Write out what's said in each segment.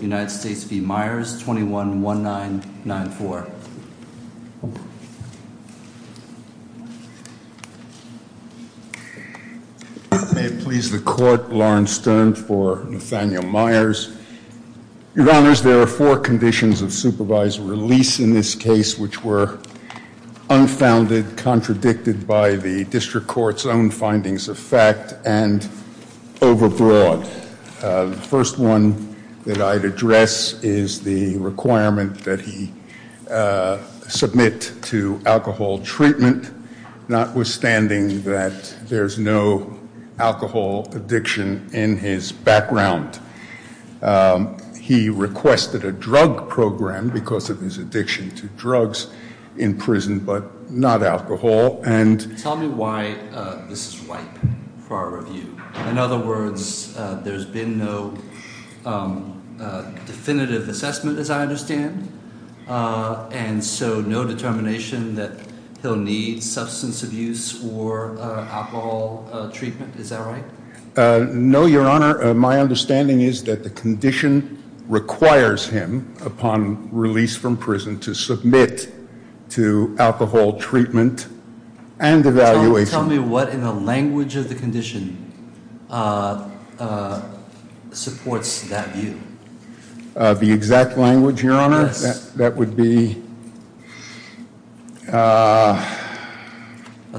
May it please the court, Lawrence Stern for Nathanael Myers. Your Honors, there are four conditions of supervisory release in this case which were unfounded, contradicted by the District Court's own findings of fact, and overbroad. The first condition that I'd address is the requirement that he submit to alcohol treatment, notwithstanding that there's no alcohol addiction in his background. He requested a drug program because of his addiction to drugs in prison, but not alcohol. Tell me why this is ripe for our review. In other words, there's been no definitive assessment, as I understand, and so no determination that he'll need substance abuse or alcohol treatment. Is that right? No, Your Honor. My understanding is that the condition requires him, upon release from prison, to submit to alcohol treatment and evaluation. Tell me what in the language of the condition supports that view. The exact language, Your Honor, that would be... I'll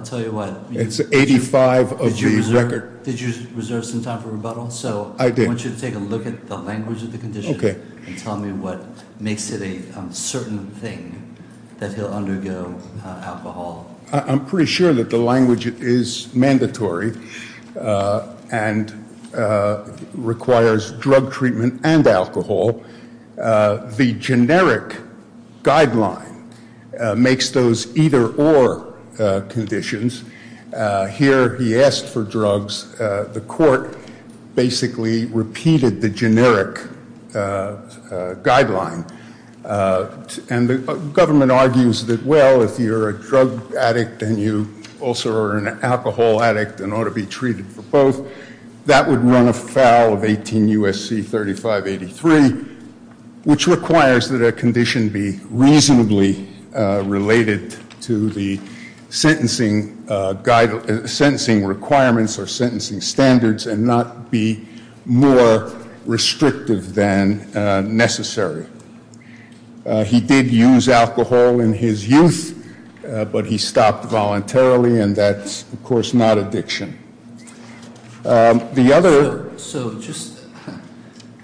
tell you what. It's 85 of the record. Did you reserve some time for rebuttal? I did. So I want you to take a look at the language of the condition and tell me what makes it a certain thing that he'll undergo alcohol. I'm pretty sure that the language is mandatory and requires drug treatment and alcohol. The generic guideline makes those either-or conditions. Here he asked for drugs. The court basically repeated the generic guideline. And the government argues that, well, if you're a drug addict and you also are an alcohol addict and ought to be treated for both, that would run afoul of 18 U.S.C. 3583, which requires that a condition be reasonably related to the sentencing requirements or sentencing standards and not be more restrictive than necessary. He did use alcohol in his youth, but he stopped voluntarily, and that's, of course, not addiction. The other... So just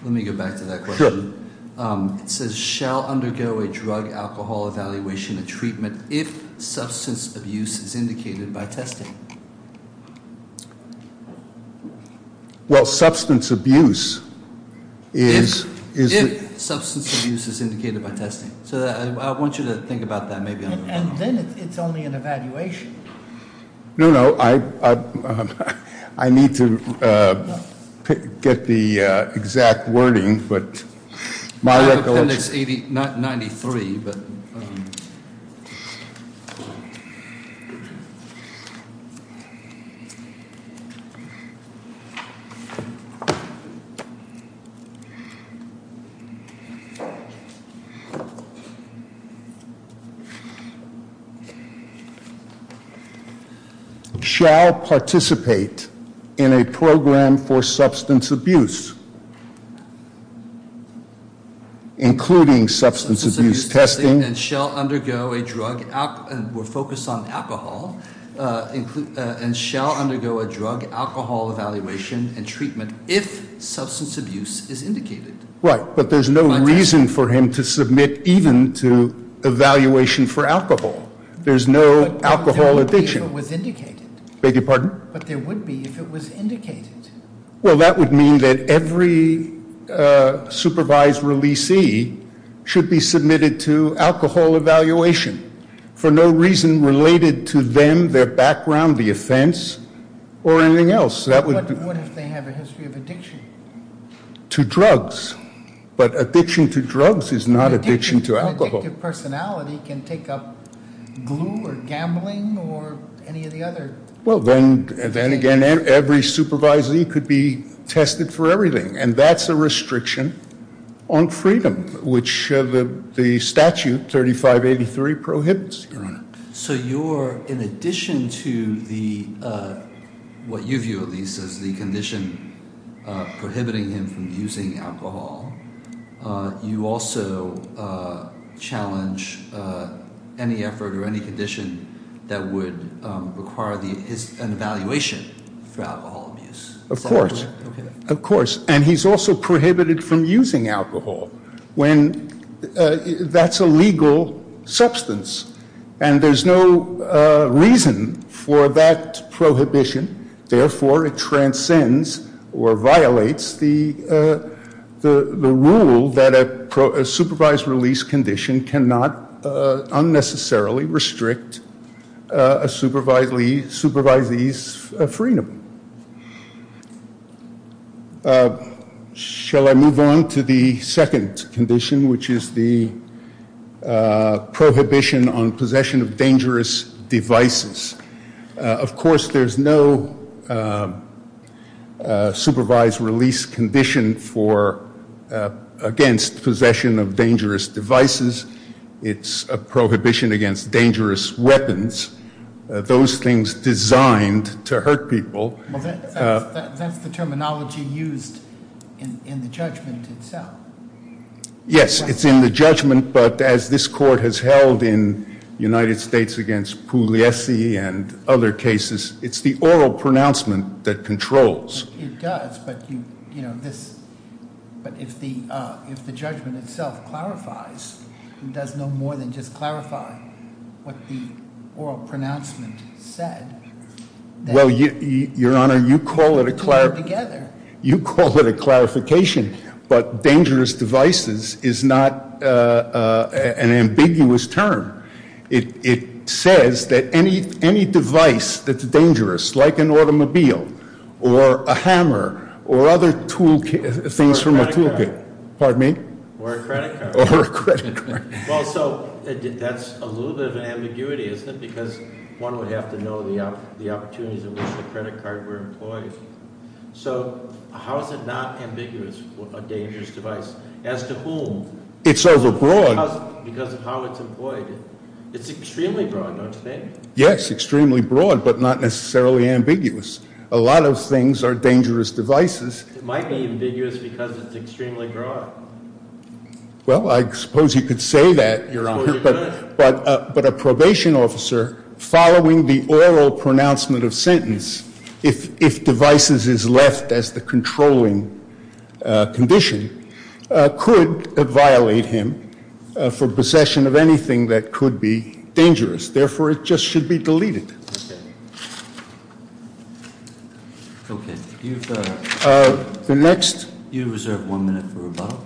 let me go back to that question. Sure. It says, shall undergo a drug-alcohol evaluation and treatment if substance abuse is indicated by testing. Well, substance abuse is... If substance abuse is indicated by testing. So I want you to think about that maybe on the phone. And then it's only an evaluation. No, no, I need to get the exact wording, but my recollection... I have Appendix 93, but... Shall participate in a program for substance abuse, including substance abuse testing... Substance abuse testing and shall undergo a drug... We're focused on alcohol. And shall undergo a drug-alcohol evaluation and treatment if substance abuse is indicated. Right, but there's no reason for him to submit even to evaluation for alcohol. There's no alcohol addiction. But there would be if it was indicated. Beg your pardon? But there would be if it was indicated. Well, that would mean that every supervised releasee should be submitted to alcohol evaluation for no reason related to them, their background, the offense, or anything else. What if they have a history of addiction? To drugs. But addiction to drugs is not addiction to alcohol. An addictive personality can take up glue or gambling or any of the other... Well, then again, every supervisee could be tested for everything, and that's a restriction on freedom, which the statute 3583 prohibits, Your Honor. So you're, in addition to the, what you view at least as the condition prohibiting him from using alcohol, you also challenge any effort or any condition that would require an evaluation for alcohol abuse. Of course. Okay. Of course. And he's also prohibited from using alcohol when that's a legal substance. And there's no reason for that prohibition. Therefore, it transcends or violates the rule that a supervised release condition cannot unnecessarily restrict a supervisee's freedom. Shall I move on to the second condition, which is the prohibition on possession of dangerous devices? Of course, there's no supervised release condition against possession of dangerous devices. It's a prohibition against dangerous weapons, those things designed to hurt people. That's the terminology used in the judgment itself. Yes, it's in the judgment, but as this court has held in United States against Pugliese and other cases, it's the oral pronouncement that controls. It does, but if the judgment itself clarifies, it does no more than just clarify what the oral pronouncement said. Well, Your Honor, you call it a clarification, but dangerous devices is not an ambiguous term. It says that any device that's dangerous, like an automobile or a hammer or other things from a toolkit. Or a credit card. Pardon me? Or a credit card. Or a credit card. Well, so that's a little bit of an ambiguity, isn't it? Because one would have to know the opportunities in which the credit card were employed. So how is it not ambiguous, a dangerous device? As to whom? It's overbroad. Because of how it's employed. It's extremely broad, don't you think? Yes, extremely broad, but not necessarily ambiguous. A lot of things are dangerous devices. It might be ambiguous because it's extremely broad. Well, I suppose you could say that. But a probation officer following the oral pronouncement of sentence, if devices is left as the controlling condition, could violate him for possession of anything that could be dangerous. Therefore, it just should be deleted. Okay. The next. You reserve one minute for rebuttal.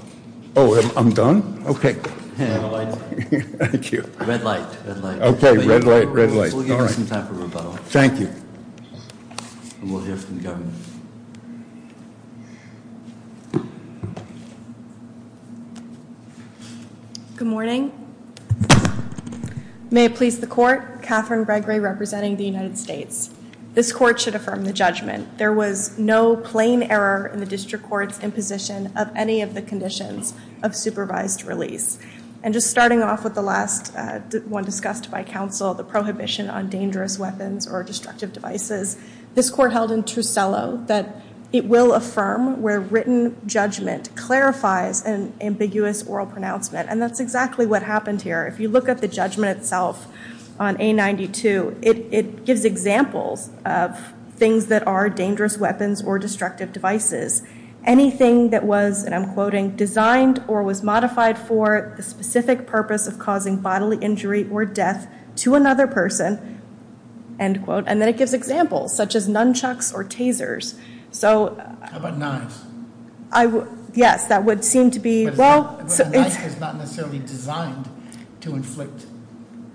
Oh, I'm done? Okay. Thank you. Red light, red light. Okay, red light, red light. We'll give you some time for rebuttal. Thank you. And we'll hear from the government. Good morning. Good morning. May it please the court. Catherine Gregory representing the United States. This court should affirm the judgment. There was no plain error in the district court's imposition of any of the conditions of supervised release. And just starting off with the last one discussed by counsel, the prohibition on dangerous weapons or destructive devices, this court held in Trusillo that it will affirm where written judgment clarifies an ambiguous oral pronouncement. And that's exactly what happened here. If you look at the judgment itself on A92, it gives examples of things that are dangerous weapons or destructive devices. Anything that was, and I'm quoting, designed or was modified for the specific purpose of causing bodily injury or death to another person, end quote. And then it gives examples such as nunchucks or tasers. How about knives? Yes, that would seem to be. But a knife is not necessarily designed to inflict.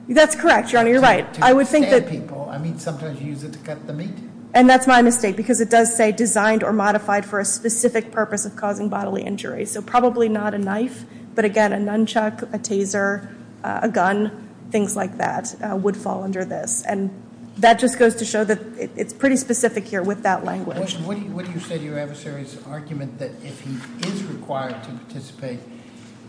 That's correct, Your Honor. You're right. To stab people. I mean, sometimes you use it to cut the meat. And that's my mistake, because it does say designed or modified for a specific purpose of causing bodily injury. So probably not a knife, but again, a nunchuck, a taser, a gun, things like that, would fall under this. And that just goes to show that it's pretty specific here with that language. What do you say to your adversary's argument that if he is required to participate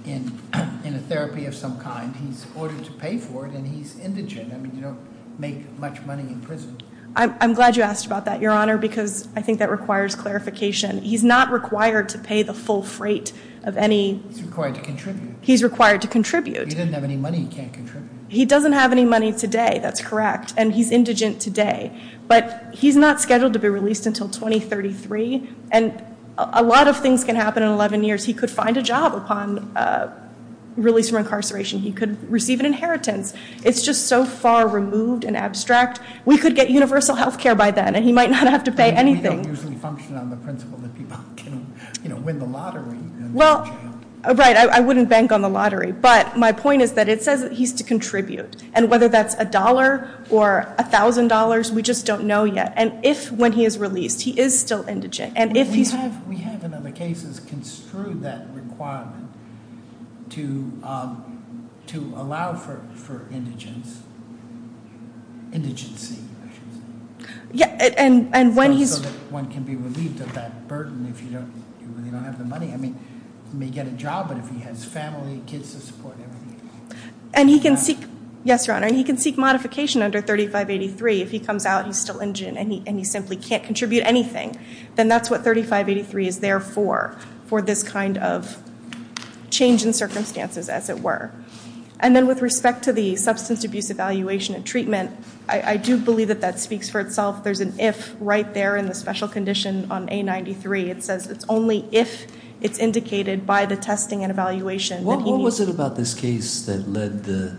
in a therapy of some kind, he's ordered to pay for it and he's indigent? I mean, you don't make much money in prison. I'm glad you asked about that, Your Honor, because I think that requires clarification. He's not required to pay the full freight of any- He's required to contribute. He's required to contribute. If he doesn't have any money, he can't contribute. He doesn't have any money today, that's correct. And he's indigent today. But he's not scheduled to be released until 2033. And a lot of things can happen in 11 years. He could find a job upon release from incarceration. He could receive an inheritance. It's just so far removed and abstract. We could get universal health care by then, and he might not have to pay anything. We don't usually function on the principle that people can win the lottery and go to jail. Right, I wouldn't bank on the lottery. But my point is that it says that he's to contribute. And whether that's $1 or $1,000, we just don't know yet. And if, when he is released, he is still indigent, and if he's- We have, in other cases, construed that requirement to allow for indigence. Indigency, I should say. Yeah, and when he's- So that one can be relieved of that burden if you really don't have the money. I mean, he may get a job, but if he has family, kids to support, everything. And he can seek- Yes, Your Honor. And he can seek modification under 3583 if he comes out, he's still indigent, and he simply can't contribute anything. Then that's what 3583 is there for, for this kind of change in circumstances, as it were. And then with respect to the substance abuse evaluation and treatment, I do believe that that speaks for itself. There's an if right there in the special condition on A93. It says it's only if it's indicated by the testing and evaluation that he needs- What was it about this case that led the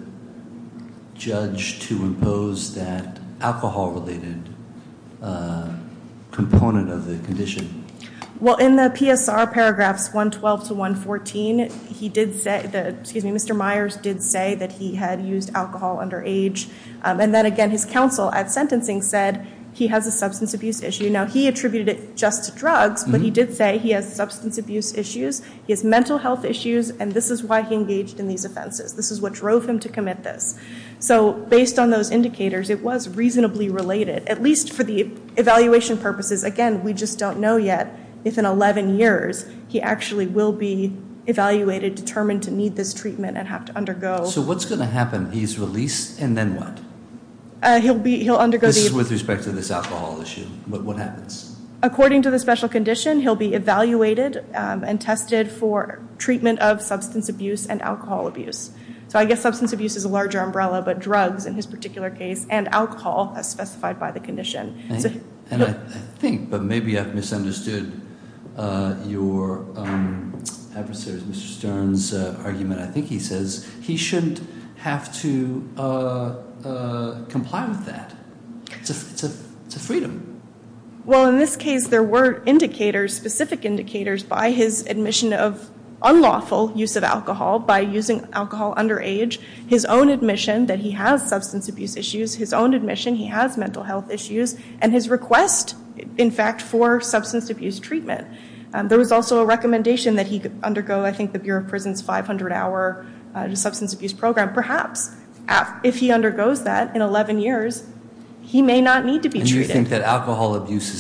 judge to impose that alcohol-related component of the condition? Well, in the PSR paragraphs 112 to 114, he did say- Excuse me, Mr. Myers did say that he had used alcohol under age. And then, again, his counsel at sentencing said he has a substance abuse issue. Now, he attributed it just to drugs, but he did say he has substance abuse issues. He has mental health issues, and this is why he engaged in these offenses. This is what drove him to commit this. So based on those indicators, it was reasonably related, at least for the evaluation purposes. Again, we just don't know yet if in 11 years he actually will be evaluated, determined to need this treatment, and have to undergo- So what's going to happen? He's released, and then what? He'll undergo the- This is with respect to this alcohol issue. What happens? According to the special condition, he'll be evaluated and tested for treatment of substance abuse and alcohol abuse. So I guess substance abuse is a larger umbrella, but drugs, in his particular case, and alcohol, as specified by the condition. And I think, but maybe I've misunderstood your adversary, Mr. Stern's, argument. I think he says he shouldn't have to comply with that. It's a freedom. Well, in this case, there were indicators, specific indicators, by his admission of unlawful use of alcohol, by using alcohol underage, his own admission that he has substance abuse issues, his own admission he has mental health issues, and his request, in fact, for substance abuse treatment. There was also a recommendation that he undergo, I think, the Bureau of Prison's 500-hour substance abuse program. Perhaps, if he undergoes that in 11 years, he may not need to be treated. And you think that alcohol abuse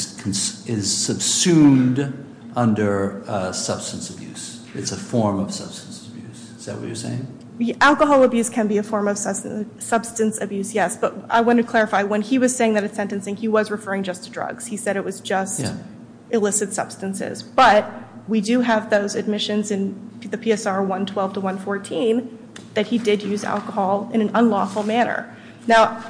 is subsumed under substance abuse? It's a form of substance abuse? Is that what you're saying? Alcohol abuse can be a form of substance abuse, yes. But I want to clarify, when he was saying that it's sentencing, he was referring just to drugs. He said it was just illicit substances. But we do have those admissions in the PSR 112 to 114 that he did use alcohol in an unlawful manner. Now,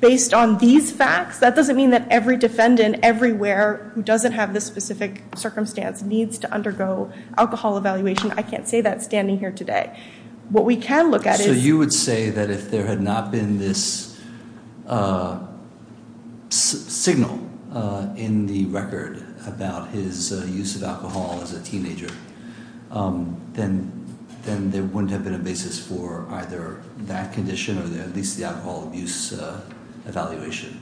based on these facts, that doesn't mean that every defendant everywhere who doesn't have this specific circumstance needs to undergo alcohol evaluation. I can't say that standing here today. What we can look at is- So you would say that if there had not been this signal in the record about his use of alcohol as a teenager, then there wouldn't have been a basis for either that condition or at least the alcohol abuse evaluation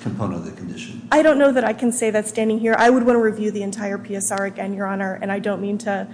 component of the condition. I don't know that I can say that standing here. I would want to review the entire PSR again, Your Honor. And I don't mean to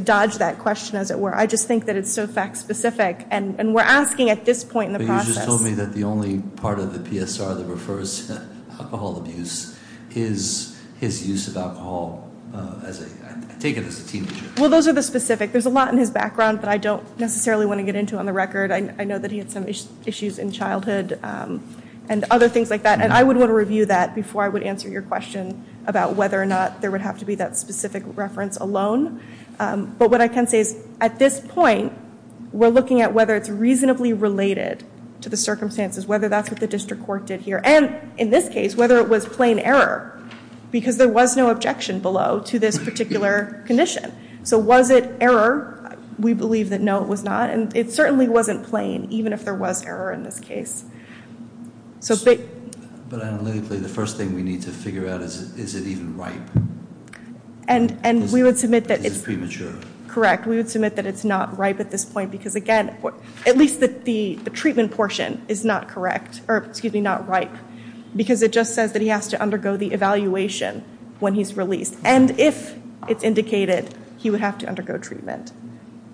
dodge that question, as it were. I just think that it's so fact specific. But you just told me that the only part of the PSR that refers to alcohol abuse is his use of alcohol, I take it, as a teenager. Well, those are the specific. There's a lot in his background that I don't necessarily want to get into on the record. I know that he had some issues in childhood and other things like that. And I would want to review that before I would answer your question about whether or not there would have to be that specific reference alone. But what I can say is, at this point, we're looking at whether it's reasonably related to the circumstances, whether that's what the district court did here, and in this case, whether it was plain error. Because there was no objection below to this particular condition. So was it error? We believe that no, it was not. And it certainly wasn't plain, even if there was error in this case. But analytically, the first thing we need to figure out is, is it even ripe? And we would submit that it's not ripe at this point. Because again, at least the treatment portion is not ripe. Because it just says that he has to undergo the evaluation when he's released. And if it's indicated, he would have to undergo treatment.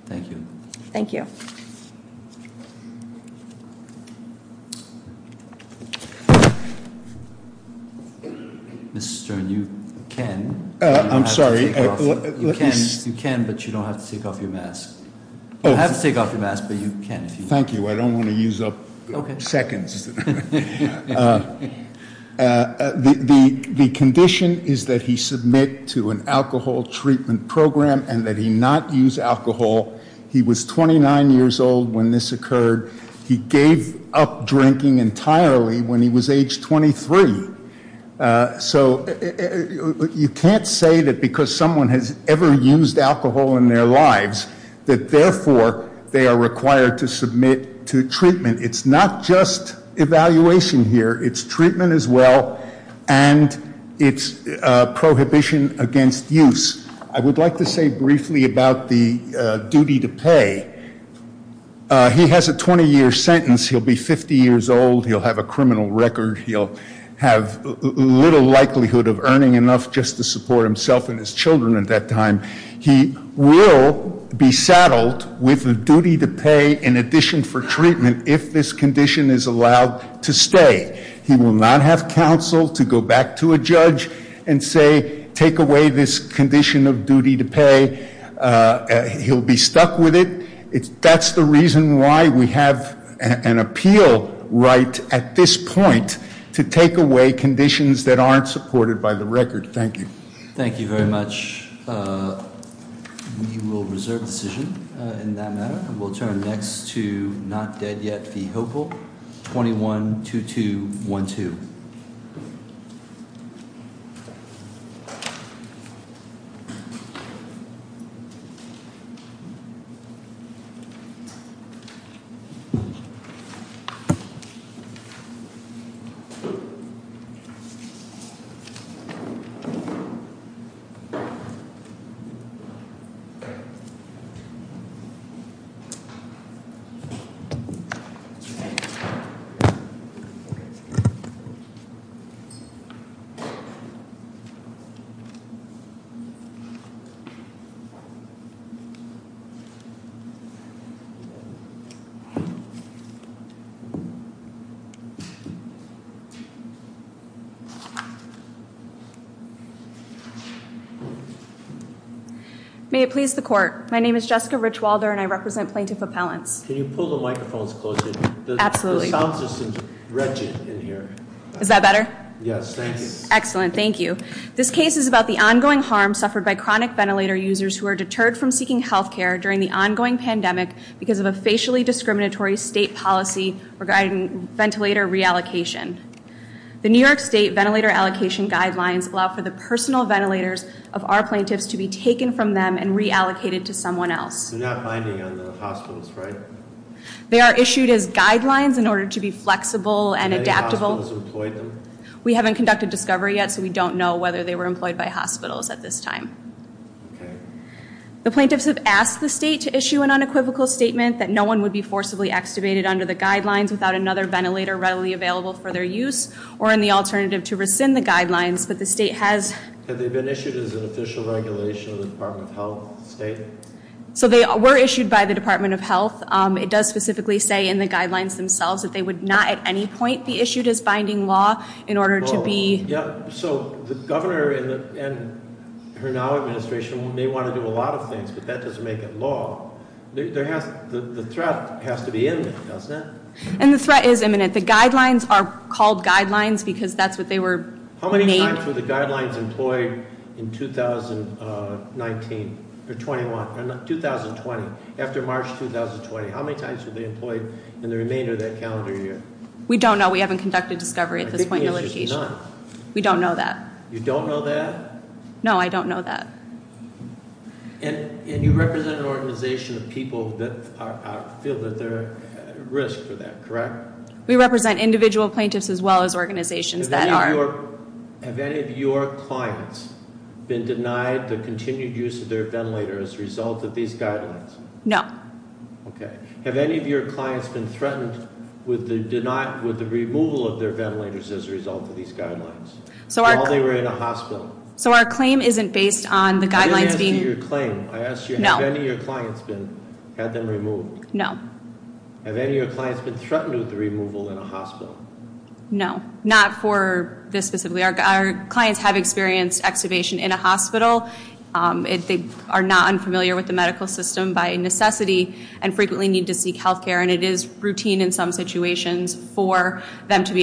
Thank you. Thank you. Thank you. Mr. Stern, you can. I'm sorry. You can, but you don't have to take off your mask. You have to take off your mask, but you can. Thank you. I don't want to use up seconds. The condition is that he submit to an alcohol treatment program and that he not use alcohol. He was 29 years old when this occurred. He gave up drinking entirely when he was age 23. So you can't say that because someone has ever used alcohol in their lives, that therefore they are required to submit to treatment. It's not just evaluation here. It's treatment as well. And it's prohibition against use. I would like to say briefly about the duty to pay. He has a 20-year sentence. He'll be 50 years old. He'll have a criminal record. He'll have little likelihood of earning enough just to support himself and his children at that time. He will be saddled with a duty to pay in addition for treatment if this condition is allowed to stay. He will not have counsel to go back to a judge and say, take away this condition of duty to pay. He'll be stuck with it. That's the reason why we have an appeal right at this point to take away conditions that aren't supported by the record. Thank you. Thank you very much. We will reserve the decision in that matter. We'll turn next to not dead yet. Hopeful. May it please the court. My name is Jessica Richwalder, and I represent Plaintiff Appellants. Can you pull the microphones closer? Absolutely. The sound system's wretched in here. Is that better? Yes, thank you. Excellent. Thank you. This case is about the ongoing harm suffered by chronic ventilator users who are deterred from seeking healthcare during the ongoing pandemic because of a facially discriminatory state policy regarding ventilator reallocation. The New York State Ventilator Allocation Guidelines allow for the personal ventilators of our plaintiffs to be taken from them and reallocated to someone else. They're not binding on the hospitals, right? They are issued as guidelines in order to be flexible and adaptable. Have any hospitals employed them? We haven't conducted discovery yet, so we don't know whether they were employed by hospitals at this time. Okay. The plaintiffs have asked the state to issue an unequivocal statement that no one would be forcibly extubated under the guidelines without another ventilator readily available for their use or in the alternative to rescind the guidelines, but the state has... Have they been issued as an official regulation of the Department of Health state? So they were issued by the Department of Health. It does specifically say in the guidelines themselves that they would not at any point be issued as binding law in order to be... Yeah, so the governor and her now administration may want to do a lot of things, but that doesn't make it law. The threat has to be in there, doesn't it? And the threat is imminent. The guidelines are called guidelines because that's what they were made... How many times were the guidelines employed in 2019 or 2020, after March 2020? How many times were they employed in the remainder of that calendar year? We don't know. We haven't conducted discovery at this point in the litigation. We don't know that. You don't know that? No, I don't know that. And you represent an organization of people that feel that they're at risk for that, correct? We represent individual plaintiffs as well as organizations that are... Have any of your clients been denied the continued use of their ventilator as a result of these guidelines? No. Okay. Have any of your clients been threatened with the removal of their ventilators as a result of these guidelines while they were in a hospital? So our claim isn't based on the guidelines being... I didn't ask you your claim. I asked you, have any of your clients had them removed? No. Have any of your clients been threatened with the removal in a hospital? No, not for this specifically. Our clients have experienced extubation in a hospital. They are not unfamiliar with the medical system by necessity and frequently need to seek health care, and it is routine in some situations for them to be extubated.